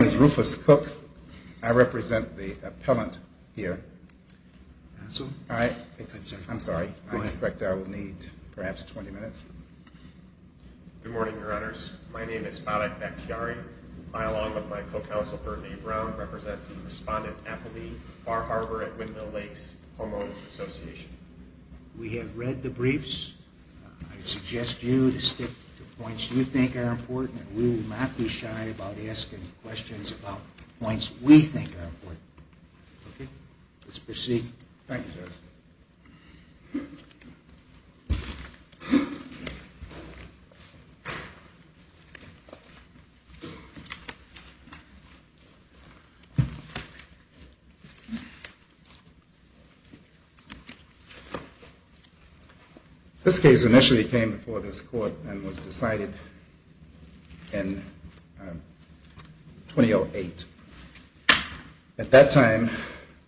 As Rufus Cook, I represent the appellant here. I'm sorry, I expect I will need perhaps 20 minutes. Good morning, Your Honors. My name is Madak Bakhtiari. I, along with my co-counsel, Burt Lee Brown, represent the respondent, Appleby Bar Harbor at Windmill Lakes Home Owners Association. We have read the briefs. I suggest you to stick to points you think are important and we will not be shy about asking questions about points we think are important. Okay, let's proceed. Thank you, sir. This case initially came before this court and was decided in 2008. At that time,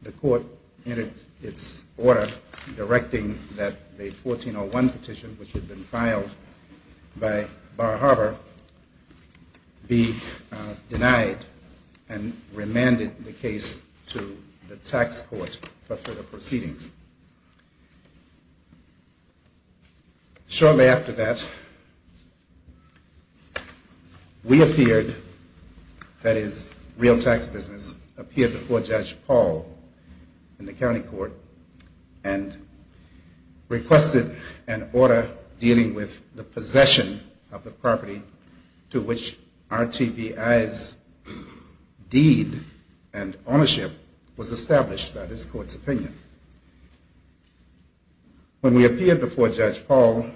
the court entered its order directing that the 1401 petition, which had been filed by Bar Harbor, be denied and remanded the case to the tax court for further proceedings. Shortly after that, we appeared, that is, Real Tax Business, appeared before Judge Paul in the county court and requested an order dealing with the possession of the property to which RTBI's deed and ownership was established by this court's opinion. When we appeared before Judge Paul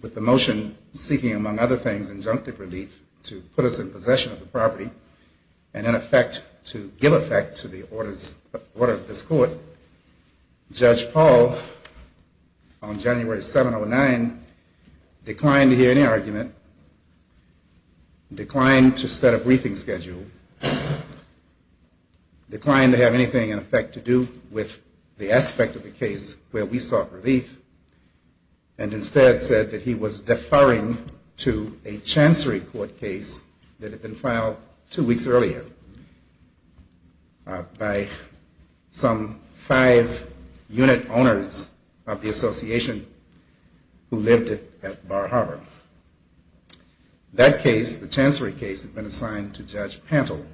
with the motion seeking, among other things, injunctive relief to put us in possession of the property and, in effect, to give effect to the order of this court, Judge Paul, on January 7 or 9, declined to hear any argument, declined to set a briefing schedule, declined to have anything in effect to do with the property. He declined to have anything to do with the aspect of the case where we sought relief and instead said that he was deferring to a chancery court case that had been filed two weeks earlier by some five unit owners of the association who lived at Bar Harbor. That case, the chancery case, had been assigned to Judge Pantle.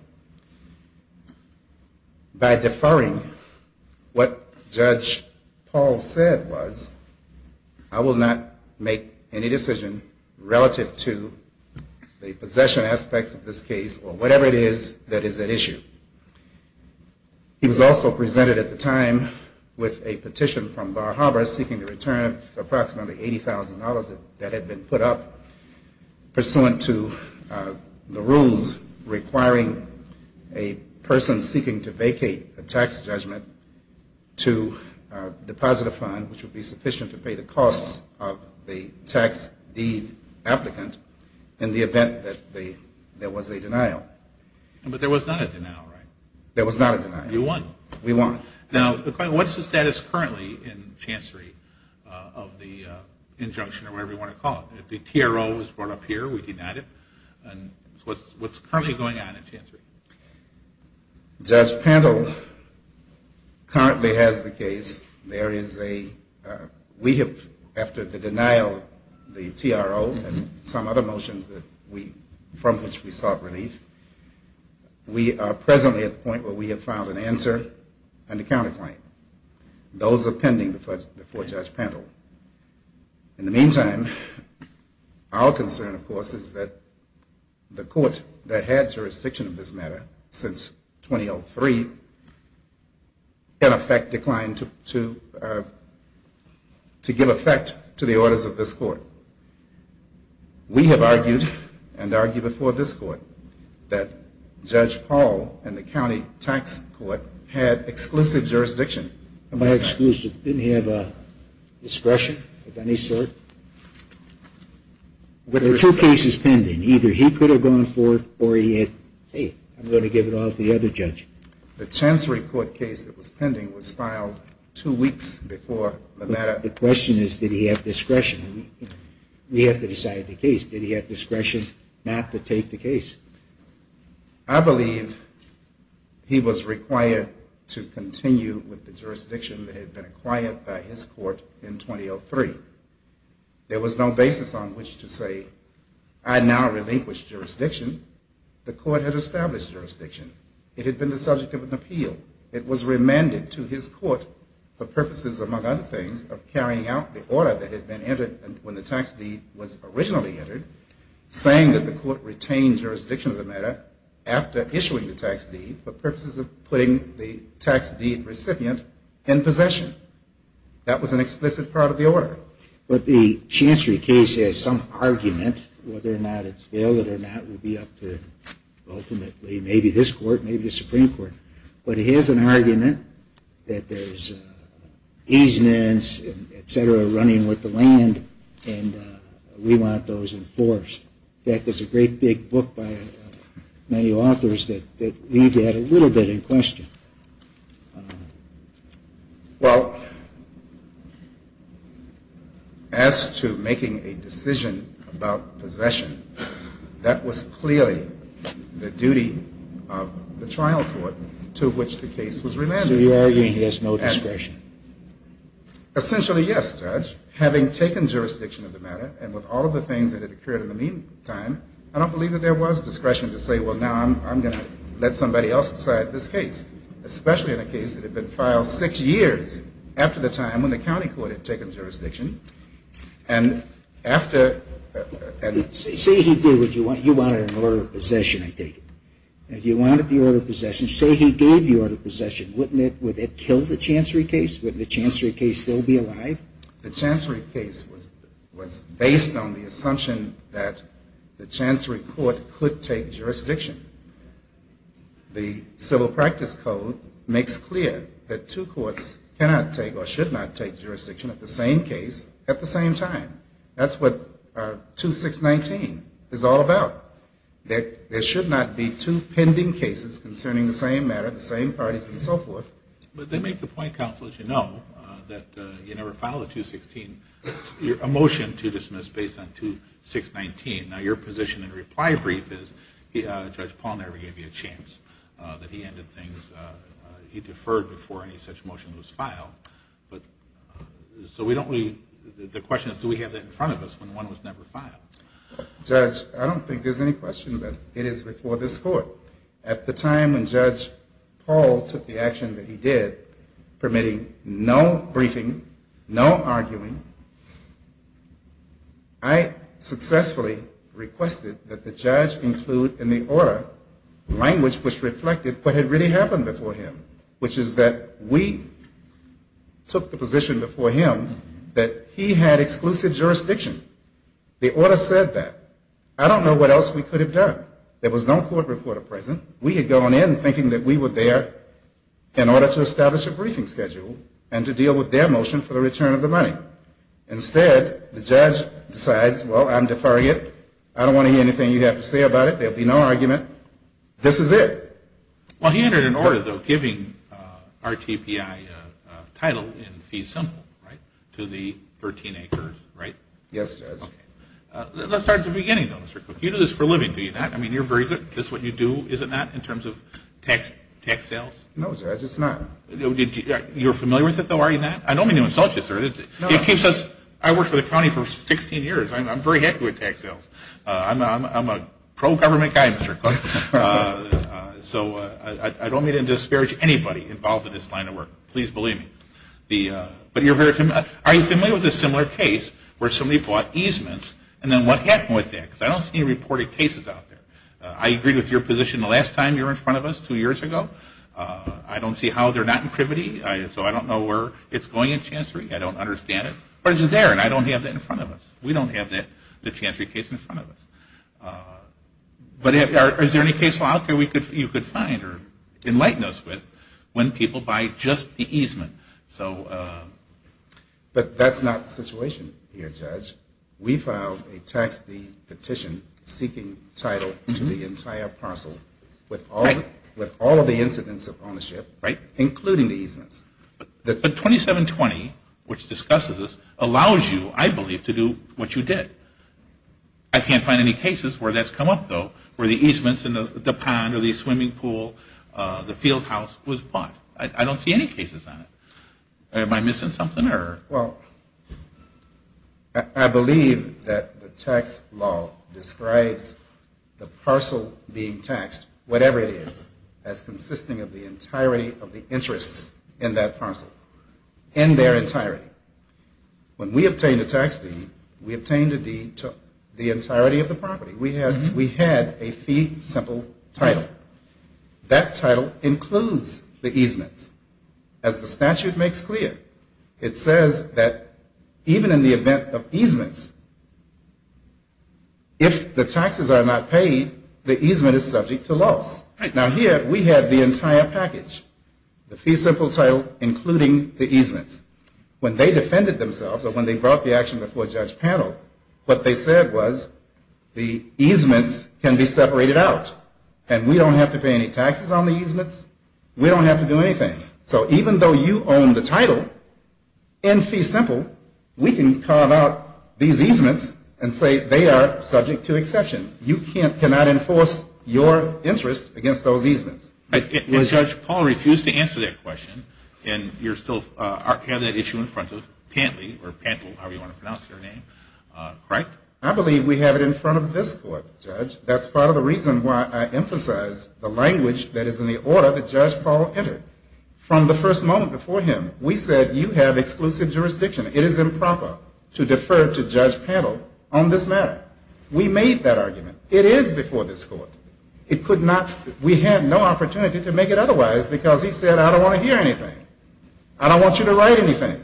By deferring, what Judge Paul said was, I will not make any decision relative to the possession aspects of this case or whatever it is that is at issue. He was also presented at the time with a petition from Bar Harbor seeking the return of approximately $80,000 that had been put up pursuant to the rules requiring a person seeking to vacate a tax judgment to deposit a fund which would be sufficient to pay the costs of the tax deed applicant in the event that there was a denial. But there was not a denial, right? There was not a denial. You won. We won. Now, what's the status currently in chancery of the injunction or whatever you want to call it? The TRO was brought up here. We denied it. What's currently going on in chancery? Judge Pantle currently has the case. There is a, we have, after the denial of the TRO and some other motions from which we sought relief, we are presently at the point where we have filed an answer and a counterclaim. Those are pending before Judge Pantle. In the meantime, our concern, of course, is that the court that had jurisdiction of this matter since 2003, in effect, declined to give effect to the orders of this court. We have argued and argue before this court that Judge Pantle and the county tax court had exclusive jurisdiction. Exclusive. Didn't he have discretion of any sort? There are two cases pending. Either he could have gone forth or he had, hey, I'm going to give it all to the other judge. The chancery court case that was pending was filed two weeks before the matter. The question is, did he have discretion? We have to decide the case. Did he have discretion not to take the case? I believe he was required to continue with the jurisdiction that had been acquired by his court in 2003. There was no basis on which to say, I now relinquish jurisdiction. The court had established jurisdiction. It had been the subject of an appeal. It was remanded to his court for purposes, among other things, of carrying out the order that had been entered when the tax deed was originally entered, saying that the court retained jurisdiction of the matter after issuing the tax deed for purposes of putting the tax deed recipient in possession. That was an explicit part of the order. But the chancery case has some argument whether or not it's valid or not will be up to ultimately maybe this court, maybe the Supreme Court. But it has an argument that there's easements, et cetera, running with the land, and we want those enforced. In fact, there's a great big book by many authors that leave that a little bit in question. Well, as to making a decision about possession, that was clearly the duty of the trial court to which the case was remanded. So you're arguing there's no discretion? Essentially, yes, Judge. Having taken jurisdiction of the matter and with all of the things that had occurred in the meantime, I don't believe that there was discretion to say, well, now I'm going to let somebody else decide this case. Especially in a case that had been filed six years after the time when the county court had taken jurisdiction. Say he wanted an order of possession, I take it. If you wanted the order of possession, say he gave the order of possession, wouldn't it kill the chancery case? Wouldn't the chancery case still be alive? The chancery case was based on the assumption that the chancery court could take jurisdiction. The civil practice code makes clear that two courts cannot take or should not take jurisdiction of the same case at the same time. That's what 2-6-19 is all about. That there should not be two pending cases concerning the same matter, the same parties and so forth. But they make the point, counsel, as you know, that you never file a 2-6-16, a motion to dismiss based on 2-6-19. Now, your position in a reply brief is Judge Paul never gave you a chance that he ended things. He deferred before any such motion was filed. So the question is, do we have that in front of us when one was never filed? Judge, I don't think there's any question that it is before this court. At the time when Judge Paul took the action that he did, permitting no briefing, no arguing, I successfully requested that the judge include in the order language which reflected what had really happened before him, which is that we took the position before him that he had exclusive jurisdiction. The order said that. I don't know what else we could have done. There was no court reporter present. We had gone in thinking that we were there in order to establish a briefing schedule and to deal with their motion for the return of the money. Instead, the judge decides, well, I'm deferring it. I don't want to hear anything you have to say about it. There will be no argument. This is it. Well, he entered an order, though, giving RTPI title in fee simple, right, to the 13 acres, right? Yes, Judge. Let's start at the beginning, though, Mr. Cook. You do this for a living, do you not? I mean, you're very good. This is what you do, is it not, in terms of tax sales? No, Judge, it's not. You're familiar with it, though, are you not? I don't mean to insult you, sir. I worked for the county for 16 years. I'm very happy with tax sales. I'm a pro-government guy, Mr. Cook. So I don't mean to disparage anybody involved in this line of work. Please believe me. But are you familiar with a similar case where somebody bought easements, and then what happened with that? Because I don't see any reported cases out there. I agreed with your position the last time you were in front of us two years ago. I don't see how they're not in privity. So I don't know where it's going in Chancery. I don't understand it. But it's there, and I don't have that in front of us. We don't have the Chancery case in front of us. But is there any case law out there you could find or enlighten us with when people buy just the easement? But that's not the situation here, Judge. We filed a tax-free petition seeking title to the entire parcel with all of the incidents of ownership, including the easements. But 2720, which discusses this, allows you, I believe, to do what you did. I can't find any cases where that's come up, though, where the easements in the pond or the swimming pool, the field house was bought. I don't see any cases on it. Am I missing something? Well, I believe that the tax law describes the parcel being taxed, whatever it is, as consisting of the entirety of the interests in that parcel, in their entirety. When we obtained a tax deed, we obtained a deed to the entirety of the property. We had a fee simple title. That title includes the easements. As the statute makes clear, it says that even in the event of easements, if the taxes are not paid, the easement is subject to loss. Now, here we had the entire package, the fee simple title including the easements. When they defended themselves or when they brought the action before Judge Pannell, what they said was the easements can be separated out and we don't have to pay any taxes on the easements. We don't have to do anything. So even though you own the title in fee simple, we can carve out these easements and say they are subject to exception. You cannot enforce your interest against those easements. Judge, Paul refused to answer that question and you still have that issue in front of Pantley or Pantel, however you want to pronounce their name, correct? I believe we have it in front of this court, Judge. That's part of the reason why I emphasize the language that is in the order that Judge Paul entered. From the first moment before him, we said you have exclusive jurisdiction. It is improper to defer to Judge Pannell on this matter. We made that argument. It is before this court. It could not, we had no opportunity to make it otherwise because he said I don't want to hear anything. I don't want you to write anything.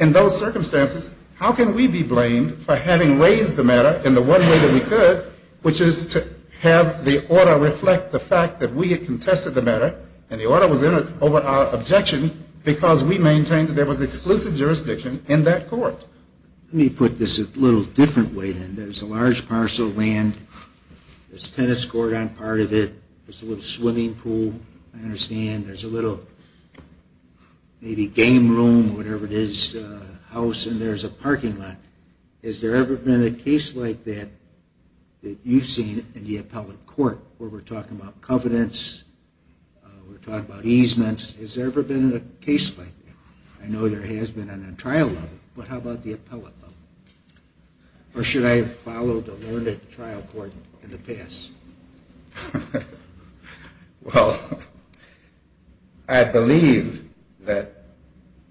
In those circumstances, how can we be blamed for having raised the matter in the one way that we could, which is to have the order reflect the fact that we had contested the matter and the order was over our objection because we maintained that there was exclusive jurisdiction in that court. Let me put this a little different way then. There's a large parcel of land. There's a tennis court on part of it. There's a little swimming pool, I understand. There's a little maybe game room, whatever it is, house, and there's a parking lot. Has there ever been a case like that that you've seen in the appellate court where we're talking about covenants, we're talking about easements. Has there ever been a case like that? I know there has been on the trial level, but how about the appellate level? Or should I have followed the learned trial court in the past? Well, I believe that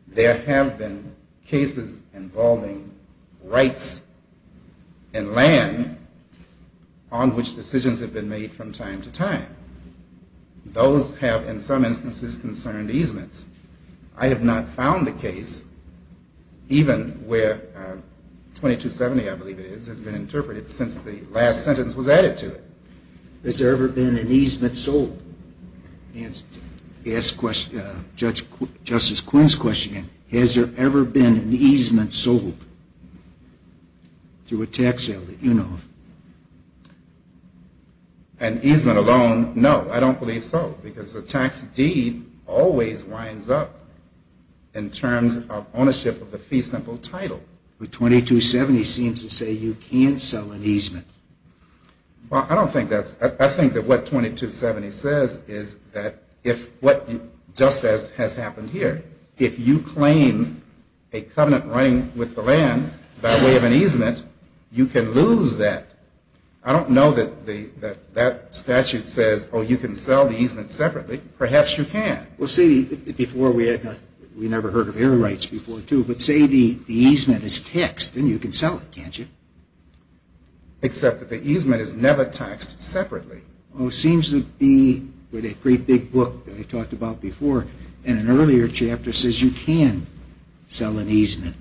there have been cases involving rights in land on which decisions have been made from time to time. Those have, in some instances, concerned easements. I have not found a case even where 2270, I believe it is, has been interpreted since the last sentence was added to it. Has there ever been an easement sold? He asked Justice Quinn's question again. Has there ever been an easement sold through a tax sale that you know of? An easement alone, no. I don't believe so because the tax deed always winds up in terms of ownership of the fee simple title. Well, I think that what 2270 says is that just as has happened here, if you claim a covenant running with the land by way of an easement, you can lose that. I don't know that that statute says, oh, you can sell the easement separately. Perhaps you can. We never heard of air rights before, too. But say the easement is taxed, then you can sell it, can't you? Except that the easement is never taxed separately. Well, it seems to be with that great big book that I talked about before, and an earlier chapter says you can sell an easement.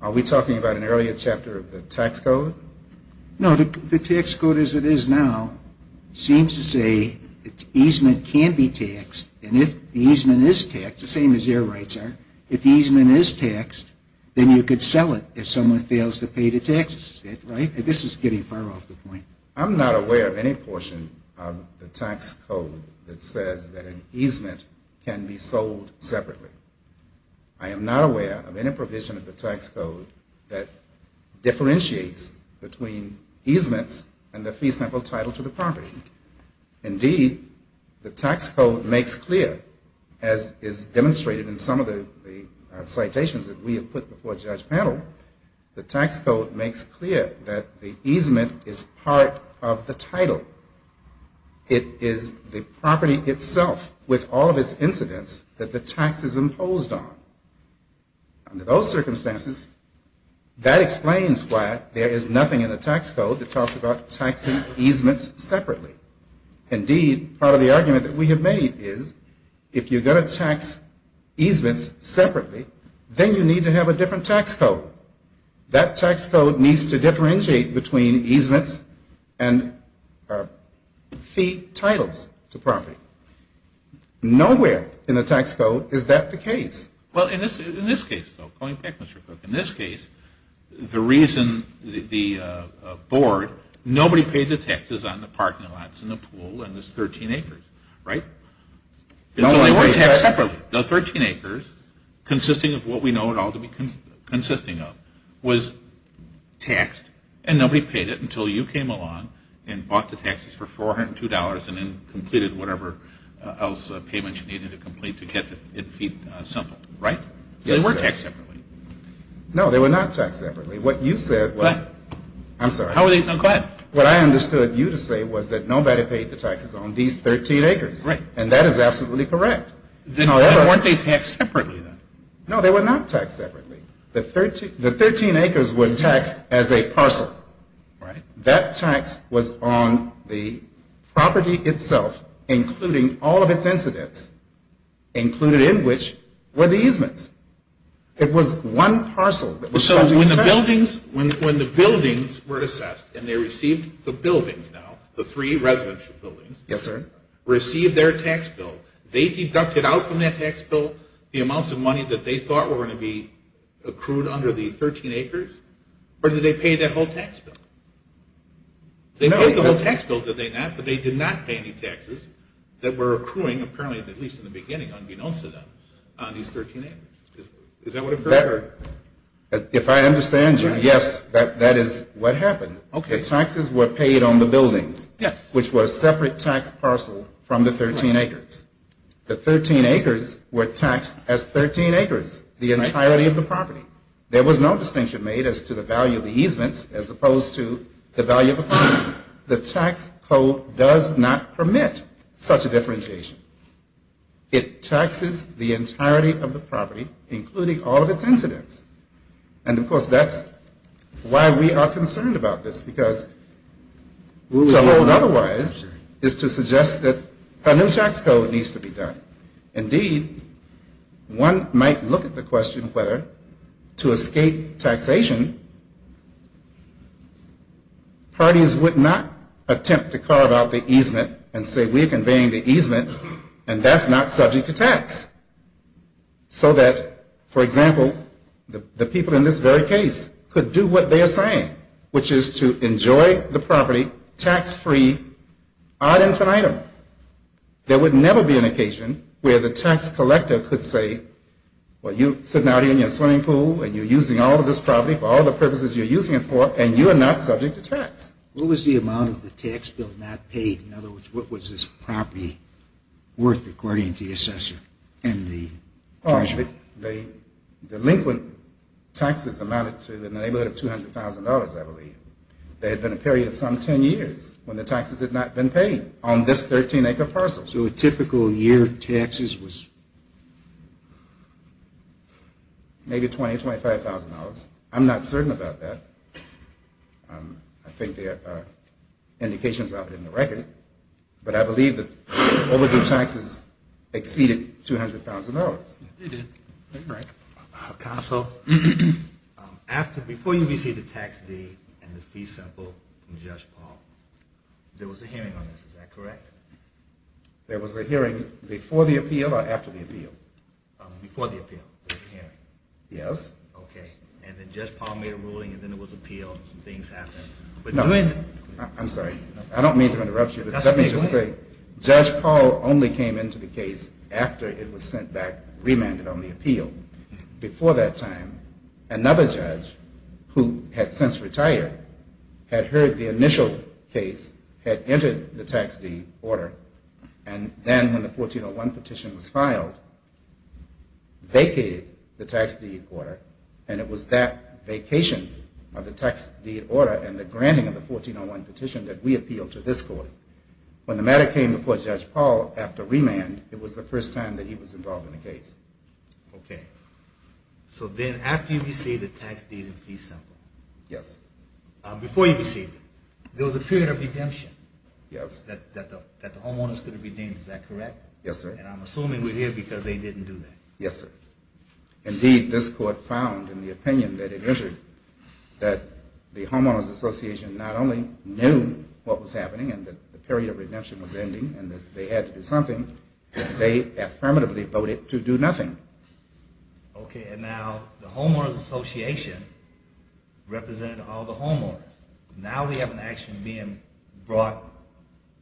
Are we talking about an earlier chapter of the tax code? No, the tax code as it is now seems to say that the easement can be taxed, and if the easement is taxed, the same as air rights are, if the easement is taxed, then you could sell it if someone fails to pay the taxes. Right? This is getting far off the point. I'm not aware of any portion of the tax code that says that an easement can be sold separately. I am not aware of any provision of the tax code that differentiates between easements and the fee simple title to the property. Indeed, the tax code makes clear, as is demonstrated in some of the citations that we have put before the judge panel, the tax code makes clear that the easement is part of the title. It is the property itself with all of its incidents that the tax is imposed on. Under those circumstances, that explains why there is nothing in the tax code that talks about taxing easements separately. Indeed, part of the argument that we have made is if you are going to tax easements separately, then you need to have a different tax code. That tax code needs to differentiate between easements and fee titles to property. Nowhere in the tax code is that the case. Well, in this case, though, going back, Mr. Cook, in this case, the reason the board, nobody paid the taxes on the parking lots and the pool and the 13 acres, right? So they weren't taxed separately. The 13 acres, consisting of what we know it ought to be consisting of, was taxed and nobody paid it until you came along and bought the taxes for $402 and then completed whatever else payments you needed to complete to get the fee simple. Right? Yes, sir. So they weren't taxed separately. No, they were not taxed separately. What you said was... Go ahead. I'm sorry. No, go ahead. What I understood you to say was that nobody paid the taxes on these 13 acres. Right. And that is absolutely correct. Then why weren't they taxed separately, then? No, they were not taxed separately. The 13 acres were taxed as a parcel. Right. That tax was on the property itself, including all of its incidents, included in which were the easements. It was one parcel. So when the buildings were assessed and they received the buildings now, the three residential buildings... Yes, sir. ...received their tax bill, they deducted out from that tax bill the amounts of money that they thought were going to be accrued under the 13 acres? Or did they pay that whole tax bill? They paid the whole tax bill, did they not? But they did not pay any taxes that were accruing, apparently, at least in the beginning, unbeknownst to them, on these 13 acres. Is that what occurred? If I understand you, yes, that is what happened. Okay. The taxes were paid on the buildings... Yes. ...which were a separate tax parcel from the 13 acres. The 13 acres were taxed as 13 acres, the entirety of the property. There was no distinction made as to the value of the easements as opposed to the value of the property. The tax code does not permit such a differentiation. It taxes the entirety of the property, including all of its incidents. And, of course, that's why we are concerned about this, because to hold otherwise is to suggest that a new tax code needs to be done. Indeed, one might look at the question whether to escape taxation, parties would not attempt to carve out the easement and say we're conveying the easement and that's not subject to tax. So that, for example, the people in this very case could do what they are saying, which is to enjoy the property tax-free ad infinitum. There would never be an occasion where the tax collector could say, well, you're sitting out here in your swimming pool and you're using all of this property for all the purposes you're using it for and you are not subject to tax. What was the amount of the tax bill not paid? In other words, what was this property worth according to the assessor and the treasurer? The delinquent taxes amounted to in the neighborhood of $200,000, I believe. There had been a period of some 10 years when the taxes had not been paid on this 13-acre parcel. So a typical year taxes was? Maybe $20,000, $25,000. I'm not certain about that. I think there are indications of it in the record. But I believe that overdue taxes exceeded $200,000. They did. Counsel, before you received the tax deed and the fee sample from Judge Paul, there was a hearing on this, is that correct? There was a hearing before the appeal or after the appeal? Before the appeal, there was a hearing. Yes. Okay, and then Judge Paul made a ruling and then there was an appeal and some things happened. I'm sorry, I don't mean to interrupt you. Let me just say, Judge Paul only came into the case after it was sent back, remanded on the appeal. Before that time, another judge who had since retired had heard the initial case, had entered the tax deed order, and then when the 1401 petition was filed, vacated the tax deed order, and it was that vacation of the tax deed order and the granting of the 1401 petition that we appealed to this court. When the matter came before Judge Paul after remand, it was the first time that he was involved in the case. Okay. So then after you received the tax deed and fee sample? Yes. Before you received it, there was a period of redemption that the homeowners could have been deemed. Is that correct? Yes, sir. And I'm assuming we're here because they didn't do that. Yes, sir. Indeed, this court found in the opinion that it entered that the homeowners association not only knew what was happening and that the period of redemption was ending and that they had to do something, but they affirmatively voted to do nothing. Okay, and now the homeowners association represented all the homeowners. Now we have an action being brought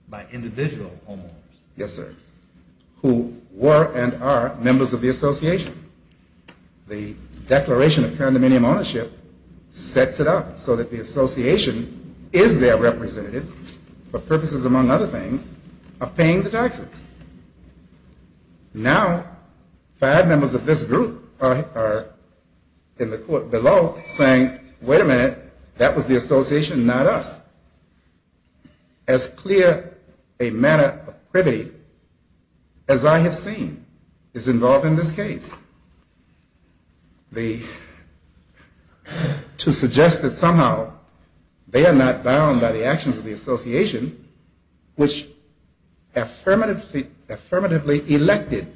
by individual homeowners. Yes, sir. Who were and are members of the association. The declaration of current minimum ownership sets it up so that the association is their representative for purposes, among other things, of paying the taxes. Now five members of this group are in the court below saying, wait a minute, that was the association, not us. As clear a matter of privity as I have seen is involved in this case. To suggest that somehow they are not bound by the actions of the association, which affirmatively elected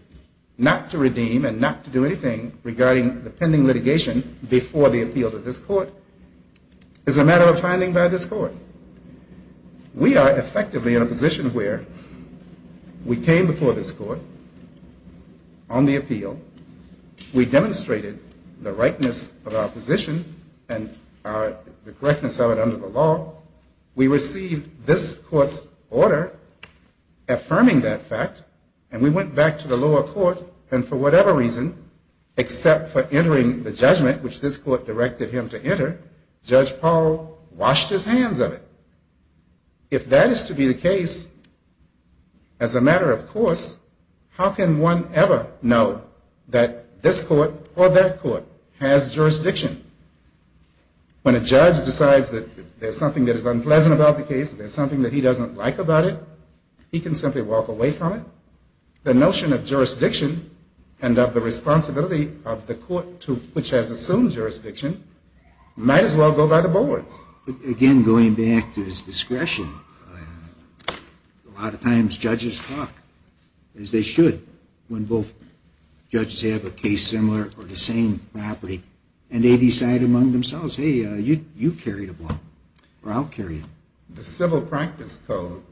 not to redeem and not to do anything regarding the pending litigation before the appeal to this court is a matter of finding by this court. We are effectively in a position where we came before this court on the appeal. We demonstrated the rightness of our position and the correctness of it under the law. We received this court's order affirming that fact and we went back to the lower court and for whatever reason, except for entering the judgment which this court directed him to enter, Judge Powell washed his hands of it. If that is to be the case, as a matter of course, how can one ever know that this court or that court has jurisdiction When a judge decides that there is something that is unpleasant about the case, there is something that he doesn't like about it, he can simply walk away from it. The notion of jurisdiction and of the responsibility of the court which has assumed jurisdiction might as well go by the boards. Again, going back to his discretion, a lot of times judges talk as they should when both judges have a case similar or the same property and they decide among themselves, hey, you carry the ball or I'll carry it. The civil practice code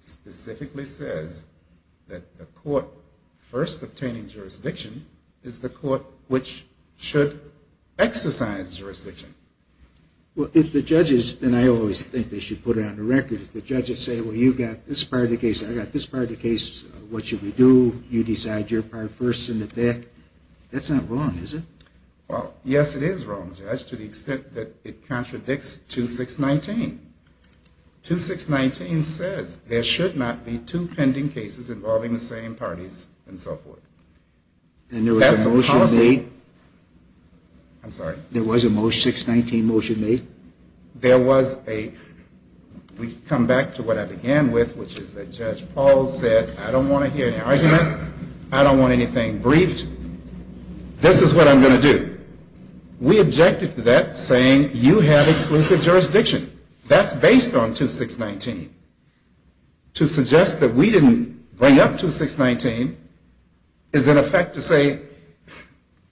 specifically says that the court first obtaining jurisdiction is the court which should exercise jurisdiction. Well, if the judges, and I always think they should put it on the record, if the judges say, well, you've got this part of the case, I've got this part of the case, what should we do, you decide your part first in the back, that's not wrong, is it? Well, yes, it is wrong, Judge, to the extent that it contradicts 2.6.19. 2.6.19 says there should not be two pending cases involving the same parties and so forth. And there was a motion made? That's the policy. I'm sorry. There was a 6.19 motion made? There was a, we come back to what I began with, which is that Judge Paul said, I don't want to hear any argument, I don't want anything briefed, this is what I'm going to do. We objected to that saying you have exclusive jurisdiction. That's based on 2.6.19. To suggest that we didn't bring up 2.6.19 is in effect to say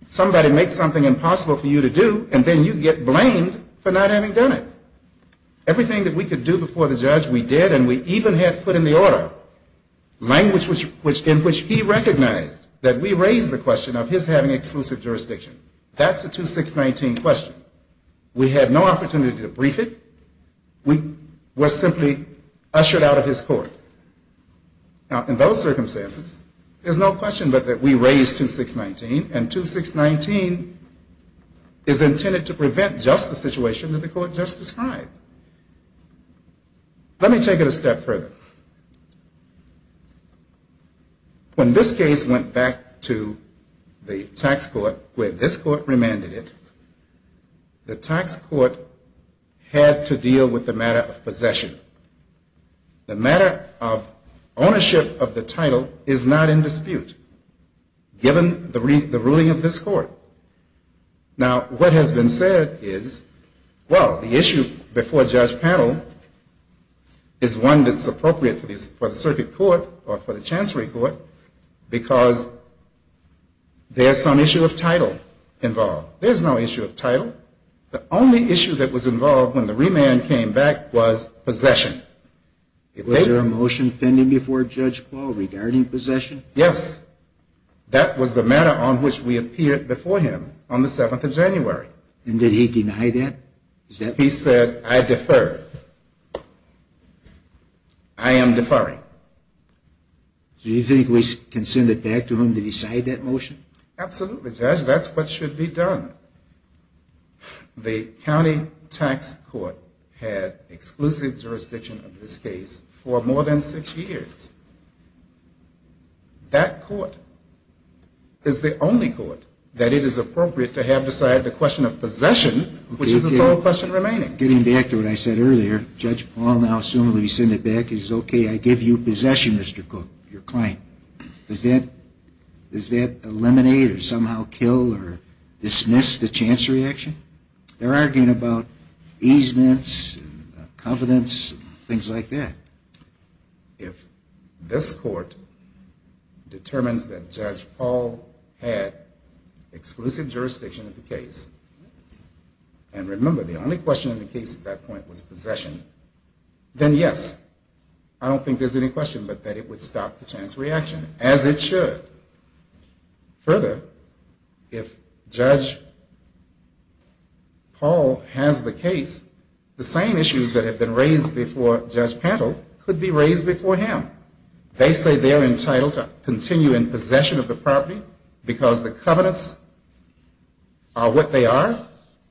somebody makes something impossible for you to do, and then you get blamed for not having done it. Everything that we could do before the judge, we did, and we even had put in the order language in which he recognized that we raised the question of his having exclusive jurisdiction. That's a 2.6.19 question. We had no opportunity to brief it. We were simply ushered out of his court. Now, in those circumstances, there's no question but that we raised 2.6.19, and 2.6.19 is intended to prevent just the situation that the court just described. Let me take it a step further. When this case went back to the tax court where this court remanded it, the tax court had to deal with the matter of possession. The matter of ownership of the title is not in dispute, given the ruling of this court. Now, what has been said is, well, the issue before Judge Paddle is one that's appropriate for the circuit court or for the chancery court because there's some issue of title involved. There's no issue of title. The only issue that was involved when the remand came back was possession. Was there a motion pending before Judge Paddle regarding possession? Yes. That was the matter on which we appeared before him on the 7th of January. And did he deny that? He said, I defer. I am deferring. Do you think we can send it back to him to decide that motion? Absolutely, Judge. That's what should be done. The county tax court had exclusive jurisdiction of this case for more than six years. That court is the only court that it is appropriate to have decide the question of possession, which is the sole question remaining. Getting back to what I said earlier, Judge Paddle now, assuming we send it back, he says, okay, I give you possession, Mr. Cook, your claim. Does that eliminate or somehow kill or dismiss the chancery action? They're arguing about easements and covenants and things like that. If this court determines that Judge Paul had exclusive jurisdiction of the case, and remember the only question in the case at that point was possession, then yes. I don't think there's any question but that it would stop the chance reaction, as it should. Further, if Judge Paul has the case, the same issues that have been raised before Judge Paddle could be raised before him. They say they're entitled to continue in possession of the property because the covenants are what they are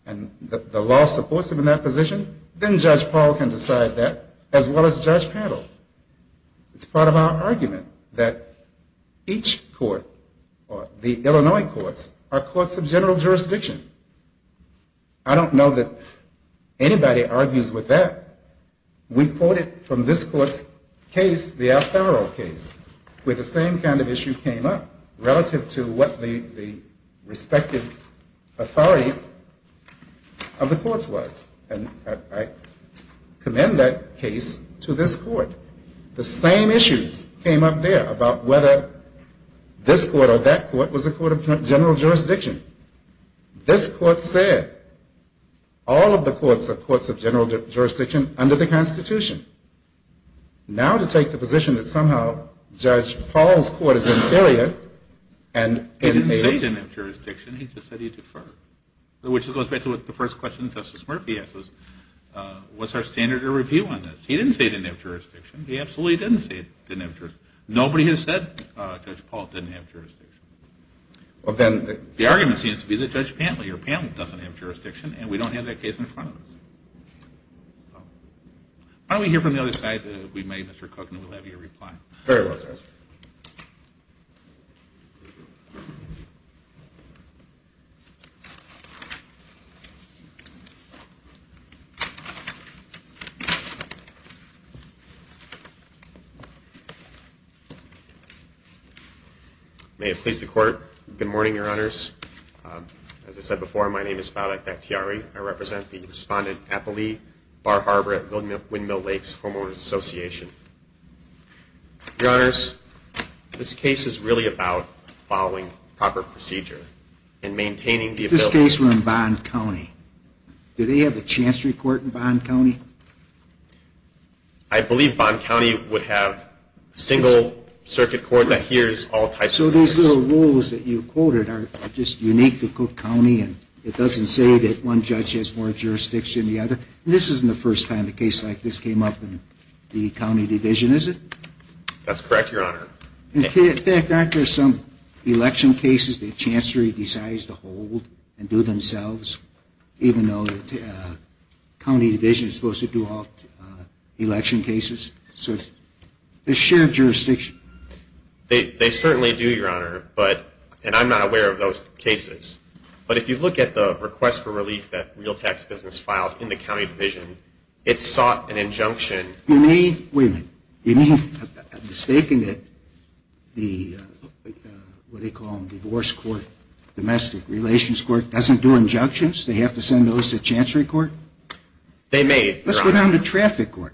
and the law supports them in that position. Then Judge Paul can decide that, as well as Judge Paddle. It's part of our argument that each court, the Illinois courts, are courts of general jurisdiction. I don't know that anybody argues with that. We quoted from this court's case, the Alfaro case, where the same kind of issue came up relative to what the respective authority of the courts was. I commend that case to this court. The same issues came up there about whether this court or that court was a court of general jurisdiction. This court said all of the courts are courts of general jurisdiction under the Constitution. Now to take the position that somehow Judge Paul's court is inferior and in a- He didn't say he didn't have jurisdiction. He just said he deferred, which goes back to the first question Justice Murphy asked us. What's our standard of review on this? He didn't say he didn't have jurisdiction. He absolutely didn't say he didn't have jurisdiction. Nobody has said Judge Paul didn't have jurisdiction. Well, then- The argument seems to be that Judge Pantley or Pantley doesn't have jurisdiction, and we don't have that case in front of us. Why don't we hear from the other side, if we may, Mr. Cook, and we'll have your reply. Very well, Justice. Thank you. May it please the Court. Good morning, Your Honors. As I said before, my name is Fadak Bakhtiari. I represent the Respondent Appalee Bar Harbor at Windmill Lakes Homeowners Association. Your Honors, this case is really about following proper procedure and maintaining the ability- If this case were in Bond County, do they have a chancery court in Bond County? I believe Bond County would have a single circuit court that hears all types of cases. So these little rules that you quoted are just unique to Cook County, and it doesn't say that one judge has more jurisdiction than the other. This isn't the first time a case like this came up in the county division, is it? That's correct, Your Honor. In fact, aren't there some election cases the chancery decides to hold and do themselves, even though the county division is supposed to do all election cases? There's shared jurisdiction. They certainly do, Your Honor, and I'm not aware of those cases. But if you look at the request for relief that Real Tax Business filed in the county division, it sought an injunction- You mean- Wait a minute. You mean, I'm mistaken that the, what do they call them, divorce court, domestic relations court, doesn't do injunctions? They have to send those to chancery court? They may, Your Honor. Let's go down to traffic court.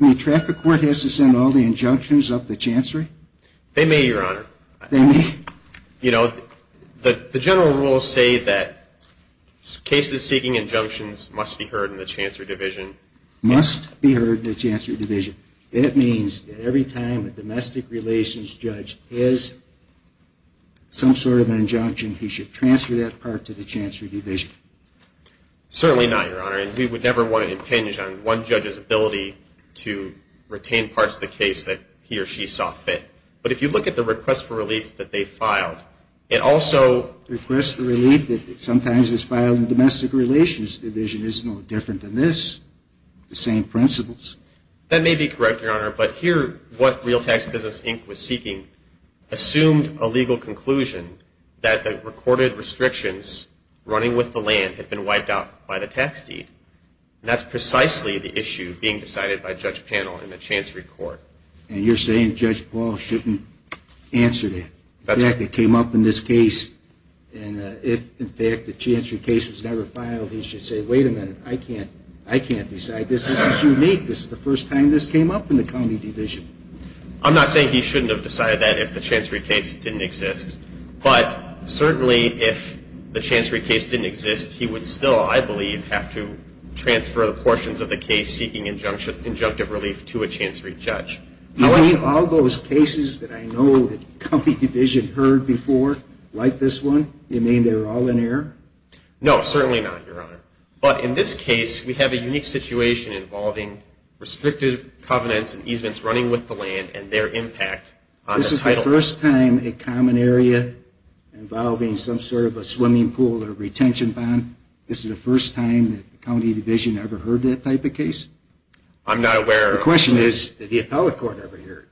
I mean, traffic court has to send all the injunctions up to chancery? They may, Your Honor. They may? You know, the general rules say that cases seeking injunctions must be heard in the chancery division. Must be heard in the chancery division. That means that every time a domestic relations judge has some sort of an injunction, he should transfer that part to the chancery division. Certainly not, Your Honor, and we would never want to impinge on one judge's ability to retain parts of the case that he or she saw fit. But if you look at the request for relief that they filed, it also- Request for relief that sometimes is filed in domestic relations division is no different than this. The same principles. That may be correct, Your Honor, but here what Real Tax Business Inc. was seeking assumed a legal conclusion that the recorded restrictions running with the land had been wiped out by the tax deed, and that's precisely the issue being decided by Judge Pannell in the chancery court. And you're saying Judge Paul shouldn't answer that. The fact that it came up in this case, and if in fact the chancery case was never filed, he should say, wait a minute, I can't decide this. This is unique. This is the first time this came up in the county division. I'm not saying he shouldn't have decided that if the chancery case didn't exist, but certainly if the chancery case didn't exist, he would still, I believe, have to transfer the portions of the case seeking injunctive relief to a chancery judge. Do you mean all those cases that I know the county division heard before, like this one, you mean they were all in error? No, certainly not, Your Honor. But in this case, we have a unique situation involving restrictive covenants and easements running with the land and their impact on the title. Is this the first time a common area involving some sort of a swimming pool or retention bond, this is the first time that the county division ever heard that type of case? I'm not aware. The question is, did the appellate court ever hear it?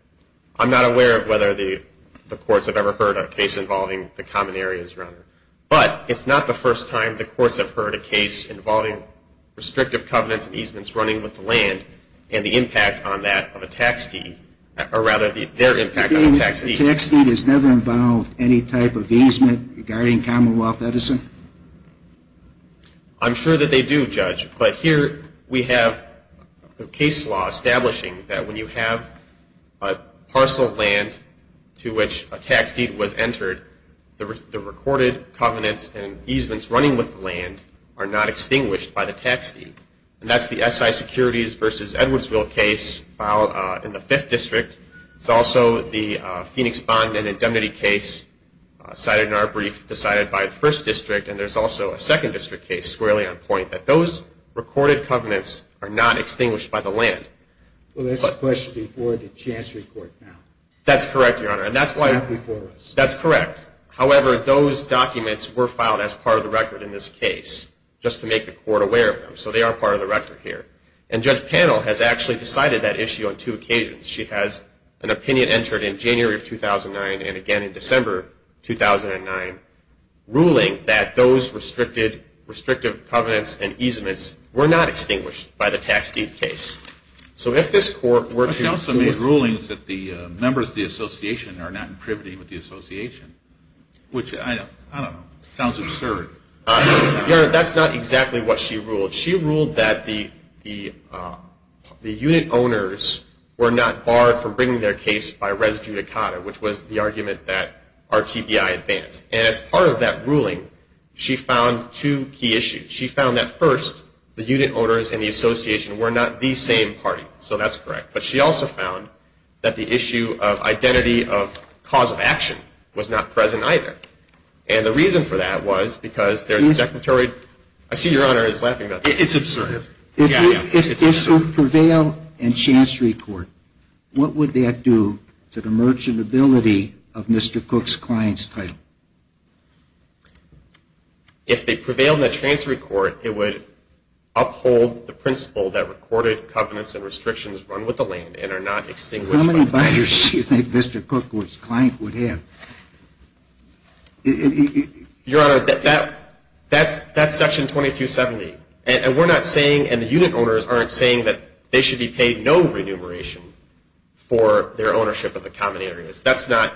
I'm not aware of whether the courts have ever heard a case involving the common areas, Your Honor. But it's not the first time the courts have heard a case involving restrictive covenants and easements running with the land and the impact on that of a tax deed, or rather their impact on a tax deed. You mean the tax deed has never involved any type of easement regarding Commonwealth Edison? I'm sure that they do, Judge. But here we have a case law establishing that when you have a parcel of land to which a tax deed was entered, the recorded covenants and easements running with the land are not extinguished by the tax deed. And that's the SI Securities v. Edwardsville case filed in the 5th District. It's also the Phoenix Bond and Indemnity case cited in our brief decided by the 1st District. And there's also a 2nd District case squarely on point that those recorded covenants are not extinguished by the land. Well, that's the question before the Chancery Court now. That's correct, Your Honor. It's not before us. That's correct. However, those documents were filed as part of the record in this case just to make the court aware of them. So they are part of the record here. And Judge Pannell has actually decided that issue on two occasions. She has an opinion entered in January of 2009 and again in December 2009, ruling that those restrictive covenants and easements were not extinguished by the tax deed case. So if this Court were to... But she also made rulings that the members of the Association are not in privity with the Association, which, I don't know, sounds absurd. Your Honor, that's not exactly what she ruled. She ruled that the unit owners were not barred from bringing their case by res judicata, which was the argument that RTBI advanced. And as part of that ruling, she found two key issues. She found that, first, the unit owners and the Association were not the same party. So that's correct. But she also found that the issue of identity of cause of action was not present either. And the reason for that was because there's a declaratory... I see Your Honor is laughing about that. It's absurd. Yeah, yeah. It's absurd. If this would prevail in Chancery Court, what would that do to the merchantability of Mr. Cook's client's title? If it prevailed in the Chancery Court, it would uphold the principle that recorded covenants and restrictions run with the land and are not extinguished by the deed. How many buyers do you think Mr. Cook's client would have? Your Honor, that's Section 2270. And we're not saying, and the unit owners aren't saying, that they should be paid no remuneration for their ownership of the common areas. That's not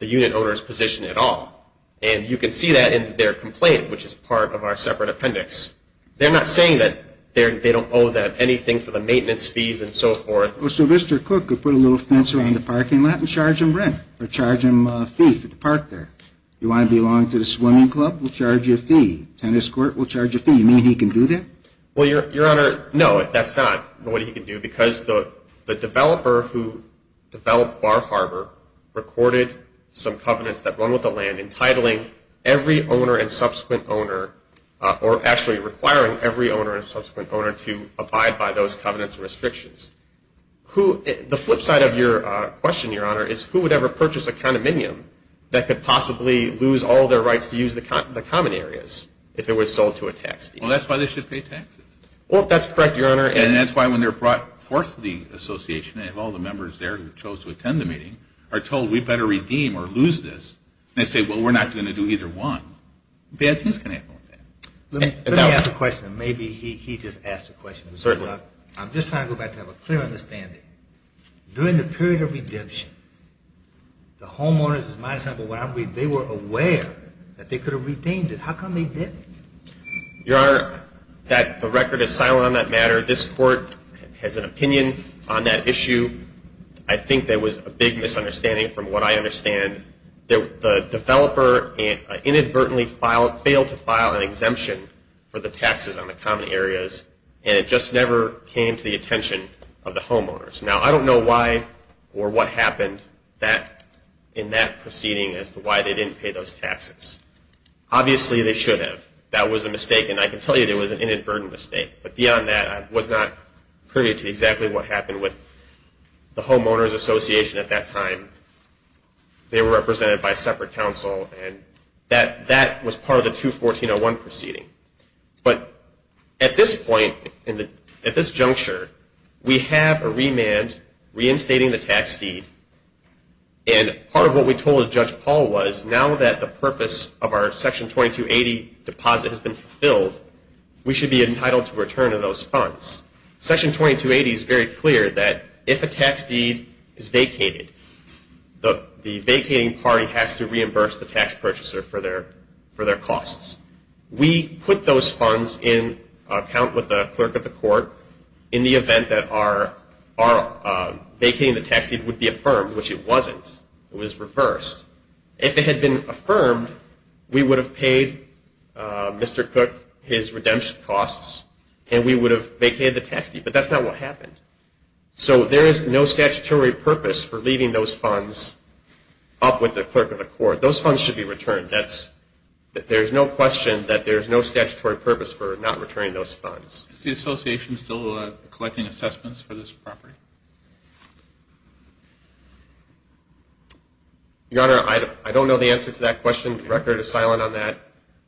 the unit owner's position at all. And you can see that in their complaint, which is part of our separate appendix. They're not saying that they don't owe them anything for the maintenance fees and so forth. So Mr. Cook could put a little fence around the parking lot and charge them rent or charge them a fee for the park there. You want to belong to the swimming club? We'll charge you a fee. Tennis court? We'll charge you a fee. You mean he can do that? Well, Your Honor, no, that's not what he can do because the developer who developed Bar Harbor recorded some covenants that run with the land entitling every owner and subsequent owner, or actually requiring every owner and subsequent owner to abide by those covenants and restrictions. The flip side of your question, Your Honor, is who would ever purchase a condominium that could possibly lose all their rights to use the common areas if it was sold to a tax deal? Well, that's why they should pay taxes. Well, that's correct, Your Honor. And that's why when they're brought forth to the association, they have all the members there who chose to attend the meeting, are told we'd better redeem or lose this. And they say, well, we're not going to do either one. Perhaps he's going to have more of that. Let me ask a question. Maybe he just asked a question. Certainly. I'm just trying to go back to have a clear understanding. During the period of redemption, the homeowners, as my example, what I'm reading, they were aware that they could have redeemed it. How come they didn't? Your Honor, the record is silent on that matter. This court has an opinion on that issue. I think there was a big misunderstanding from what I understand. The developer inadvertently failed to file an exemption for the taxes on the common areas, and it just never came to the attention of the homeowners. Now, I don't know why or what happened in that proceeding as to why they didn't pay those taxes. Obviously, they should have. That was a mistake, and I can tell you it was an inadvertent mistake. But beyond that, I was not privy to exactly what happened with the homeowners association at that time. They were represented by a separate counsel, and that was part of the 214.01 proceeding. But at this point, at this juncture, we have a remand reinstating the tax deed, and part of what we told Judge Paul was, now that the purpose of our Section 2280 deposit has been fulfilled, we should be entitled to return of those funds. Section 2280 is very clear that if a tax deed is vacated, the vacating party has to reimburse the tax purchaser for their costs. We put those funds in account with the clerk of the court in the event that vacating the tax deed would be affirmed, which it wasn't. It was reversed. If it had been affirmed, we would have paid Mr. Cook his redemption costs, and we would have vacated the tax deed. But that's not what happened. So there is no statutory purpose for leaving those funds up with the clerk of the court. Those funds should be returned. There's no question that there's no statutory purpose for not returning those funds. Is the association still collecting assessments for this property? Your Honor, I don't know the answer to that question. The record is silent on that.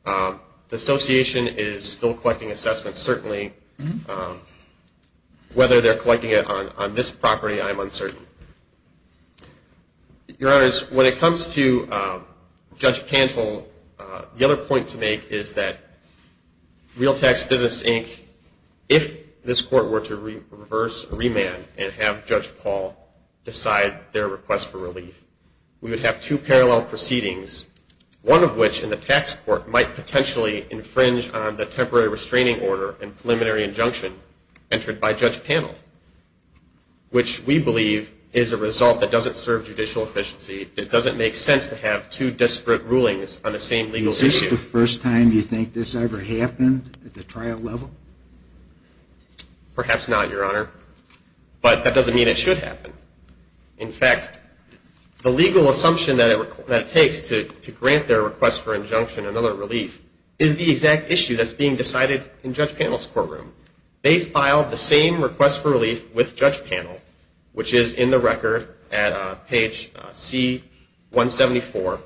The association is still collecting assessments. Certainly whether they're collecting it on this property, I'm uncertain. Your Honors, when it comes to Judge Pantel, the other point to make is that Real Tax Business, Inc., if this court were to reverse or remand and have Judge Paul decide their request for relief, we would have two parallel proceedings, one of which in the tax court might potentially infringe on the temporary restraining order and preliminary injunction entered by Judge Pantel, which we believe is a result that doesn't serve judicial efficiency. It doesn't make sense to have two disparate rulings on the same legal issue. Is this the first time you think this ever happened at the trial level? Perhaps not, Your Honor. But that doesn't mean it should happen. In fact, the legal assumption that it takes to grant their request for injunction and other relief is the exact issue that's being decided in Judge Pantel's courtroom. They filed the same request for relief with Judge Pantel, which is in the record at page C-174.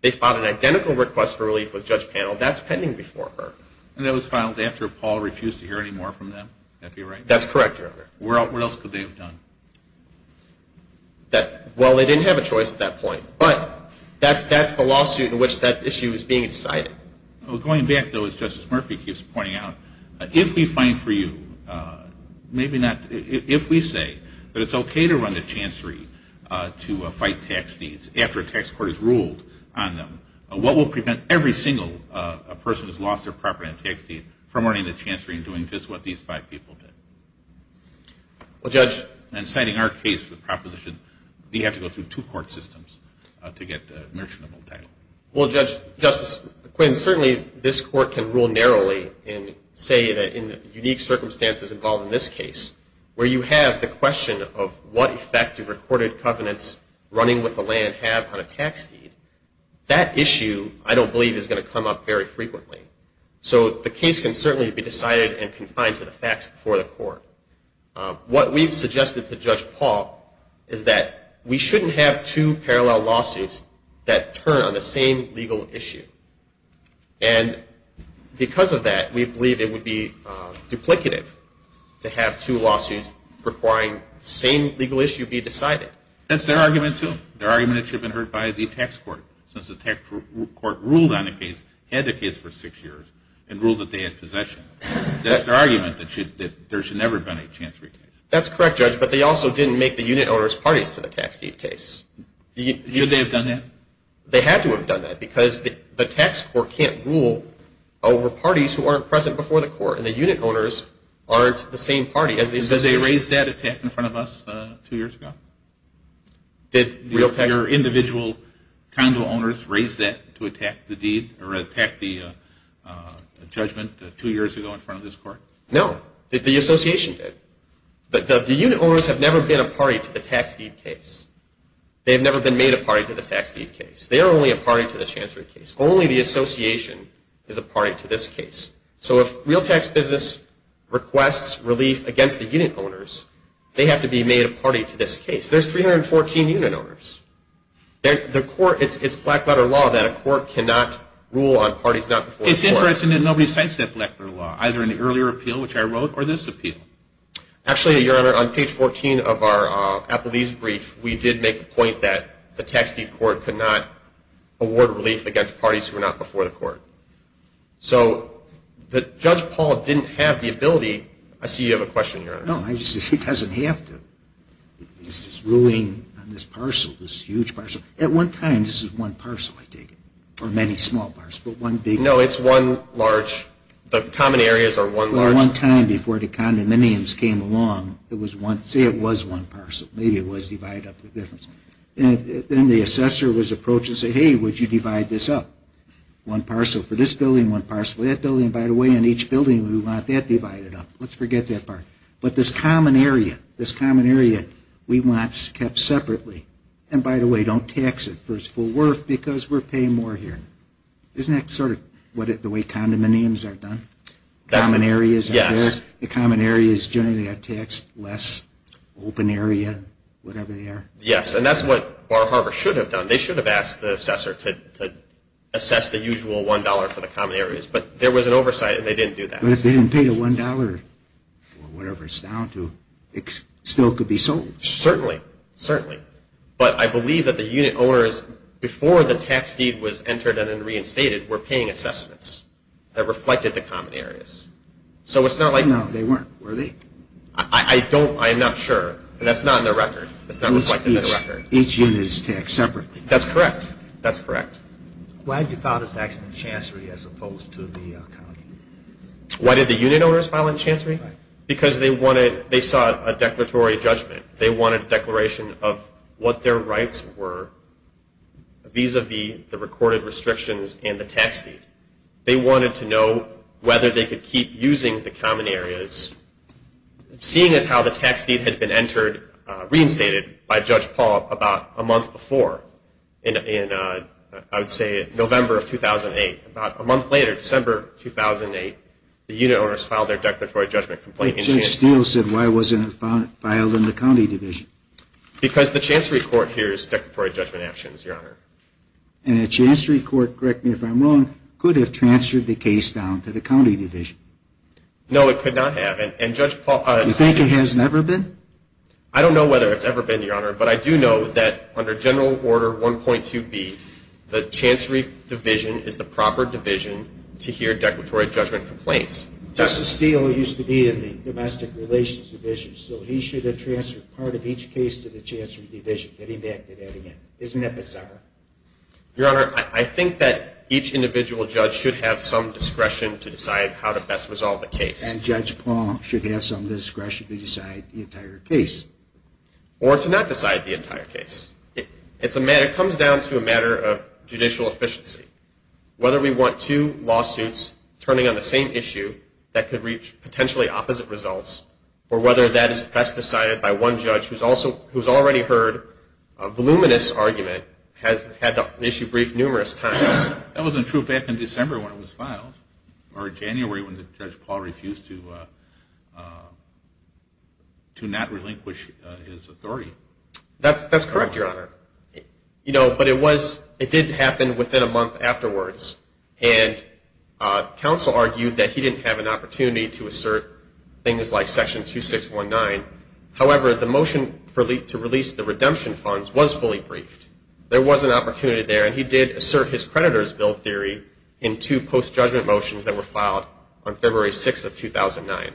They filed an identical request for relief with Judge Pantel. That's pending before her. And that was filed after Paul refused to hear any more from them? That be right? That's correct, Your Honor. What else could they have done? Well, they didn't have a choice at that point. But that's the lawsuit in which that issue is being decided. Going back, though, as Justice Murphy keeps pointing out, if we find for you, maybe not if we say that it's okay to run the chancery to fight tax deeds after a tax court has ruled on them, what will prevent every single person who's lost their property on a tax deed from running the chancery and doing just what these five people did? Well, Judge. And citing our case for the proposition, do you have to go through two court systems to get the merchantable title? Well, Justice Quinn, certainly this court can rule narrowly and say that in the unique circumstances involved in this case, where you have the question of what effective recorded covenants running with the land have on a tax deed, that issue, I don't believe, is going to come up very frequently. So the case can certainly be decided and confined to the facts before the court. What we've suggested to Judge Paul is that we shouldn't have two parallel lawsuits that turn on the same legal issue. And because of that, we believe it would be duplicative to have two lawsuits requiring the same legal issue be decided. That's their argument, too. Their argument that should have been heard by the tax court, since the tax court ruled on the case, had the case for six years, and ruled that they had possession. That's their argument, that there should never have been a chancery case. That's correct, Judge. But they also didn't make the unit owners parties to the tax deed case. Should they have done that? They had to have done that, because the tax court can't rule over parties who aren't present before the court, and the unit owners aren't the same party as the association. Did they raise that attack in front of us two years ago? Did your individual condo owners raise that to attack the deed or attack the judgment two years ago in front of this court? No. The association did. The unit owners have never been a party to the tax deed case. They have never been made a party to the tax deed case. They are only a party to the chancery case. Only the association is a party to this case. So if Real Tax Business requests relief against the unit owners, they have to be made a party to this case. There's 314 unit owners. It's black-letter law that a court cannot rule on parties not before the court. It's interesting that nobody cites that black-letter law, either in the earlier appeal, which I wrote, or this appeal. Actually, Your Honor, on page 14 of our Applebee's brief, we did make the point that the tax deed court could not award relief against parties who were not before the court. So Judge Paul didn't have the ability. I see you have a question, Your Honor. No, he doesn't. He has to. This is ruling on this parcel, this huge parcel. At one time, this was one parcel, I take it, or many small parcels. No, it's one large. The common areas are one large. One time before the condominiums came along, say it was one parcel. Maybe it was divided up. Then the assessor was approached and said, hey, would you divide this up? One parcel for this building, one parcel for that building. By the way, in each building, we want that divided up. Let's forget that part. But this common area, this common area, we want kept separately. And, by the way, don't tax it for its full worth because we're paying more here. Isn't that sort of the way condominiums are done? Common areas are there. The common areas generally are taxed less, open area, whatever they are. Yes, and that's what Bar Harbor should have done. They should have asked the assessor to assess the usual $1 for the common areas. But there was an oversight, and they didn't do that. But if they didn't pay the $1 or whatever it's down to, it still could be sold. Certainly, certainly. But I believe that the unit owners, before the tax deed was entered and then reinstated, were paying assessments that reflected the common areas. No, they weren't, were they? I am not sure, but that's not in the record. It's not reflected in the record. Each unit is taxed separately. That's correct. Why did you file this action in chancery as opposed to the county? Why did the unit owners file in chancery? Because they wanted, they sought a declaratory judgment. They wanted a declaration of what their rights were vis-a-vis the recorded restrictions and the tax deed. They wanted to know whether they could keep using the common areas, seeing as how the tax deed had been entered, reinstated by Judge Paul about a month before in, I would say, November of 2008. About a month later, December 2008, the unit owners filed their declaratory judgment complaint. Judge Steele said, why wasn't it filed in the county division? Because the chancery court hears declaratory judgment actions, Your Honor. And the chancery court, correct me if I'm wrong, could have transferred the case down to the county division. No, it could not have. Do you think it has never been? I don't know whether it's ever been, Your Honor. But I do know that under General Order 1.2B, the chancery division is the proper division to hear declaratory judgment complaints. Justice Steele used to be in the domestic relations division, so he should have transferred part of each case to the chancery division. Can he do that again? Isn't that bizarre? Your Honor, I think that each individual judge should have some discretion to decide how to best resolve the case. And Judge Paul should have some discretion to decide the entire case. Or to not decide the entire case. It comes down to a matter of judicial efficiency. Whether we want two lawsuits turning on the same issue that could reach potentially opposite results, or whether that's decided by one judge who's already heard a voluminous argument, had the issue briefed numerous times. Or January when Judge Paul refused to not relinquish his authority. That's correct, Your Honor. But it did happen within a month afterwards. And counsel argued that he didn't have an opportunity to assert things like Section 2619. However, the motion to release the redemption funds was fully briefed. There was an opportunity there. And he did assert his creditor's bill theory in two post-judgment motions that were filed on February 6th of 2009.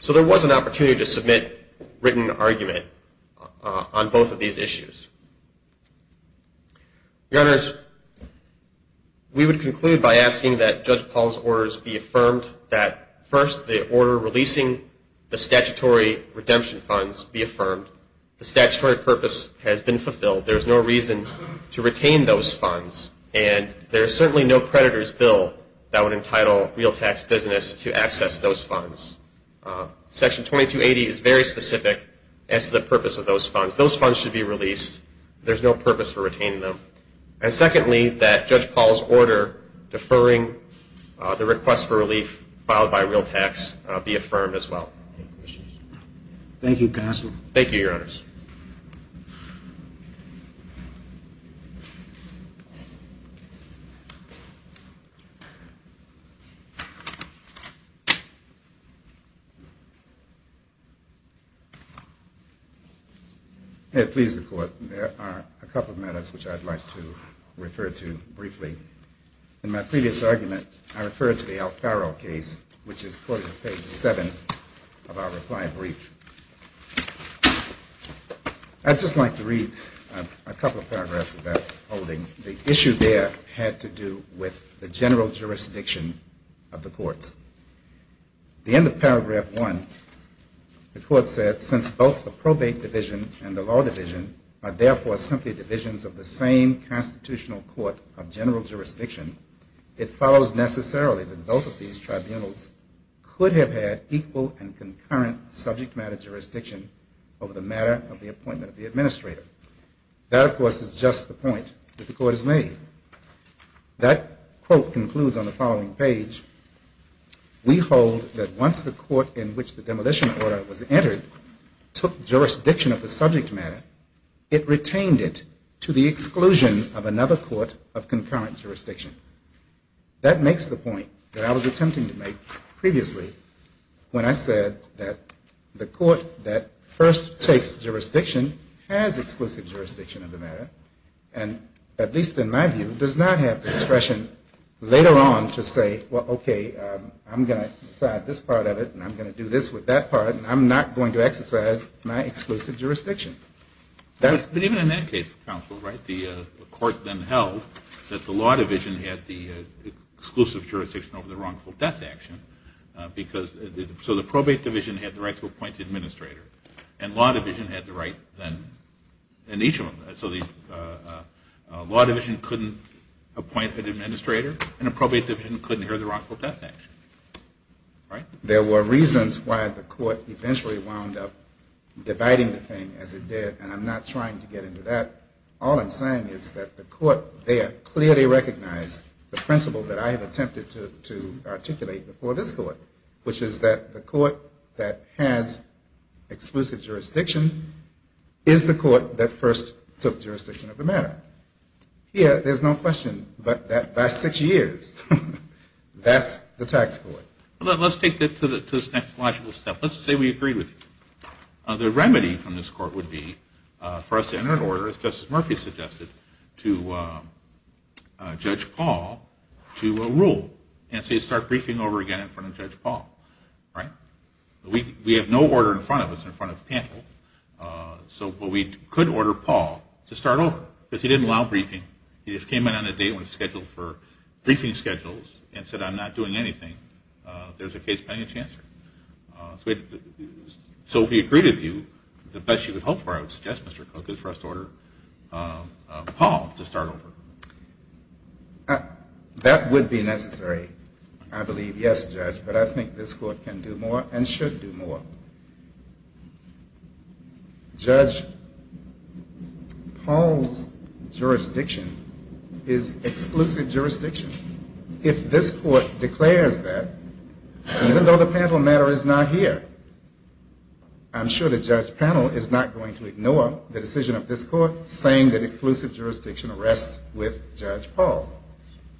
So there was an opportunity to submit written argument on both of these issues. Your Honors, we would conclude by asking that Judge Paul's orders be affirmed. That first, the order releasing the statutory redemption funds be affirmed. The statutory purpose has been fulfilled. There's no reason to retain those funds. And there is certainly no creditor's bill that would entitle real tax business to access those funds. Section 2280 is very specific as to the purpose of those funds. Those funds should be released. There's no purpose for retaining them. And secondly, that Judge Paul's order deferring the request for relief filed by real tax be affirmed as well. Thank you, counsel. Thank you, Your Honors. May it please the Court, there are a couple of matters which I'd like to refer to briefly. In my previous argument, I referred to the Alfaro case, which is quoted on page 7 of our reply brief. I'd just like to read a couple of paragraphs of that holding. The issue there had to do with the general jurisdiction of the courts. At the end of paragraph 1, the court said, Since both the probate division and the law division are therefore simply divisions of the same constitutional court of general jurisdiction, it follows necessarily that both of these tribunals could have had equal and concurrent subject matter jurisdiction over the matter of the appointment of the administrator. That, of course, is just the point that the Court has made. That quote concludes on the following page. We hold that once the court in which the demolition order was entered took jurisdiction of the subject matter, it retained it to the exclusion of another court of concurrent jurisdiction. That makes the point that I was attempting to make previously when I said that the court that first takes jurisdiction has exclusive jurisdiction of the matter, and, at least in my view, does not have discretion later on to say, Well, okay, I'm going to decide this part of it, and I'm going to do this with that part, and I'm not going to exercise my exclusive jurisdiction. But even in that case, counsel, the court then held that the law division had the exclusive jurisdiction over the wrongful death action. So the probate division had the right to appoint the administrator, and law division had the right then in each of them. So the law division couldn't appoint an administrator, and the probate division couldn't hear the wrongful death action. There were reasons why the court eventually wound up dividing the thing as it did, and I'm not trying to get into that. All I'm saying is that the court there clearly recognized the principle that I have attempted to articulate before this Court, which is that the court that has exclusive jurisdiction is the court that first took jurisdiction of the matter. Here, there's no question that by six years, that's the tax court. Let's take this to the next logical step. Let's say we agree with you. The remedy from this Court would be for us to enter an order, as Justice Murphy suggested, to Judge Paul to rule and to start briefing over again in front of Judge Paul, right? We have no order in front of us, in front of the panel, but we could order Paul to start over because he didn't allow briefing. He just came in on a date when it was scheduled for briefing schedules and said, I'm not doing anything. There's a case pending, Chancellor. So if we agreed with you, the best you could hope for, I would suggest, Mr. Cook, is for us to order Paul to start over. That would be necessary, I believe. Yes, Judge, but I think this Court can do more and should do more. Judge Paul's jurisdiction is exclusive jurisdiction. If this Court declares that, even though the panel matter is not here, I'm sure the judge panel is not going to ignore the decision of this Court saying that exclusive jurisdiction rests with Judge Paul.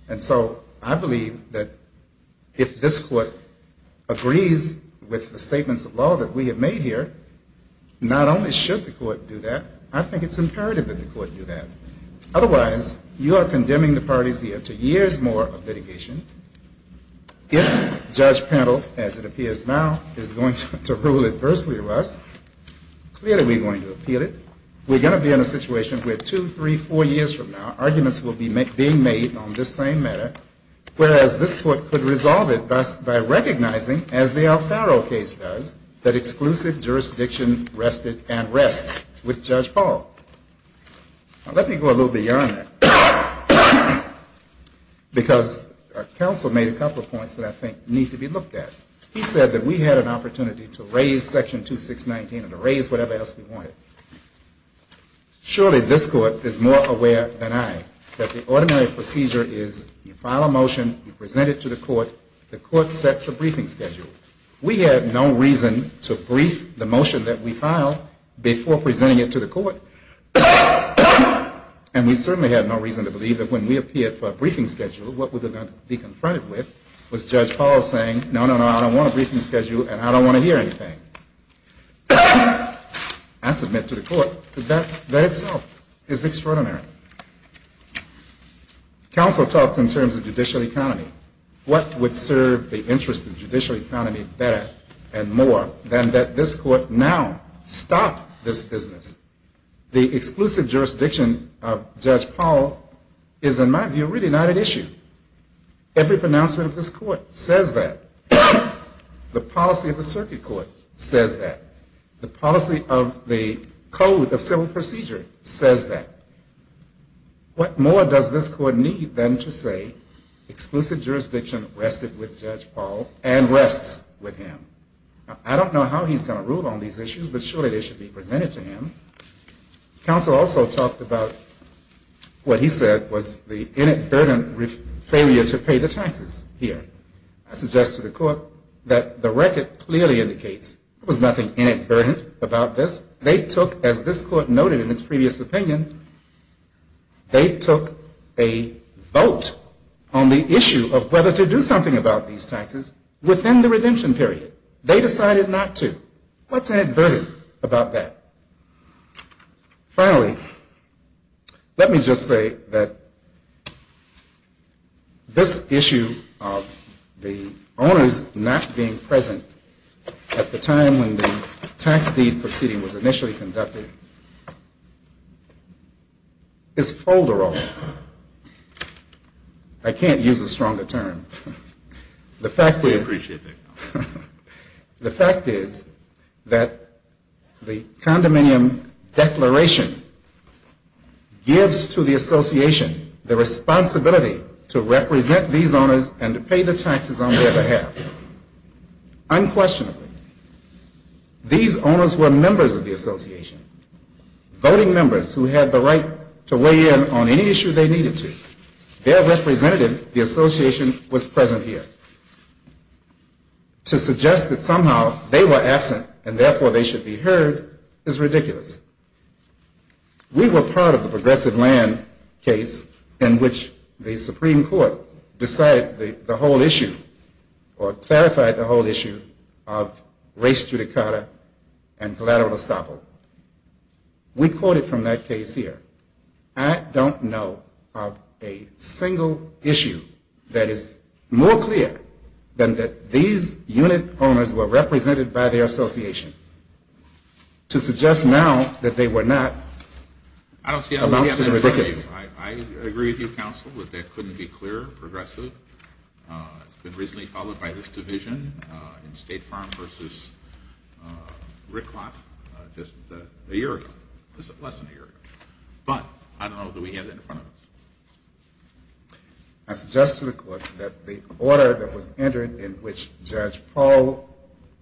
And so I believe that if this Court agrees with the statements of law that we have made here, not only should the Court do that, I think it's imperative that the Court do that. Otherwise, you are condemning the parties here to years more of litigation. If Judge Pennell, as it appears now, is going to rule adversely to us, clearly we're going to appeal it. We're going to be in a situation where two, three, four years from now, arguments will be being made on this same matter, whereas this Court could resolve it by recognizing, as the Alfaro case does, that exclusive jurisdiction rested and rests with Judge Paul. Now, let me go a little bit beyond that. Because our counsel made a couple of points that I think need to be looked at. He said that we had an opportunity to raise Section 2619 and to raise whatever else we wanted. Surely this Court is more aware than I that the ordinary procedure is you file a motion, you present it to the Court, the Court sets a briefing schedule. We had no reason to brief the motion that we filed before presenting it to the Court. And we certainly had no reason to believe that when we appeared for a briefing schedule, what we were going to be confronted with was Judge Paul saying, no, no, no, I don't want a briefing schedule and I don't want to hear anything. I submit to the Court that that itself is extraordinary. Counsel talks in terms of judicial economy. What would serve the interest of judicial economy better and more than that this Court now stop this business? The exclusive jurisdiction of Judge Paul is, in my view, really not an issue. Every pronouncement of this Court says that. The policy of the Circuit Court says that. The policy of the Code of Civil Procedure says that. What more does this Court need than to say exclusive jurisdiction rested with Judge Paul and rests with him? I don't know how he's going to rule on these issues, but surely they should be presented to him. Counsel also talked about what he said was the inadvertent failure to pay the taxes here. I suggest to the Court that the record clearly indicates there was nothing inadvertent about this. They took, as this Court noted in its previous opinion, they took a vote on the issue of whether to do something about these taxes within the redemption period. They decided not to. What's inadvertent about that? Finally, let me just say that this issue of the owners not being present at the time when the tax deed proceeding was initially conducted is folder all. I can't use a stronger term. We appreciate that. The fact is that the condominium declaration gives to the association the responsibility to represent these owners and to pay the taxes on their behalf. Unquestionably, these owners were members of the association, voting members who had the right to weigh in on any issue they needed to. Their representative, the association, was present here. To suggest that somehow they were absent and therefore they should be heard is ridiculous. We were part of the progressive land case in which the Supreme Court decided the whole issue or clarified the whole issue of race judicata and collateral estoppel. We quoted from that case here. I don't know of a single issue that is more clear than that these unit owners were represented by their association. To suggest now that they were not amounts to the ridiculous. I agree with you, counsel, that that couldn't be clearer. Progressive. It's been recently followed by this division in State Farm v. Rickloff just a year ago. Less than a year ago. But I don't know that we have that in front of us. I suggest to the Court that the order that was entered in which Judge Paul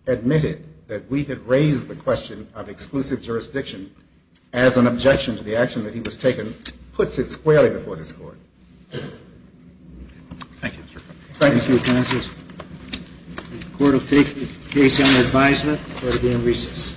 admitted that we had raised the question of exclusive jurisdiction as an objection to the action that he was taking puts it squarely before this Court. Thank you. Thank you, counsel. The Court will take the case under advisement. Court will be in recess.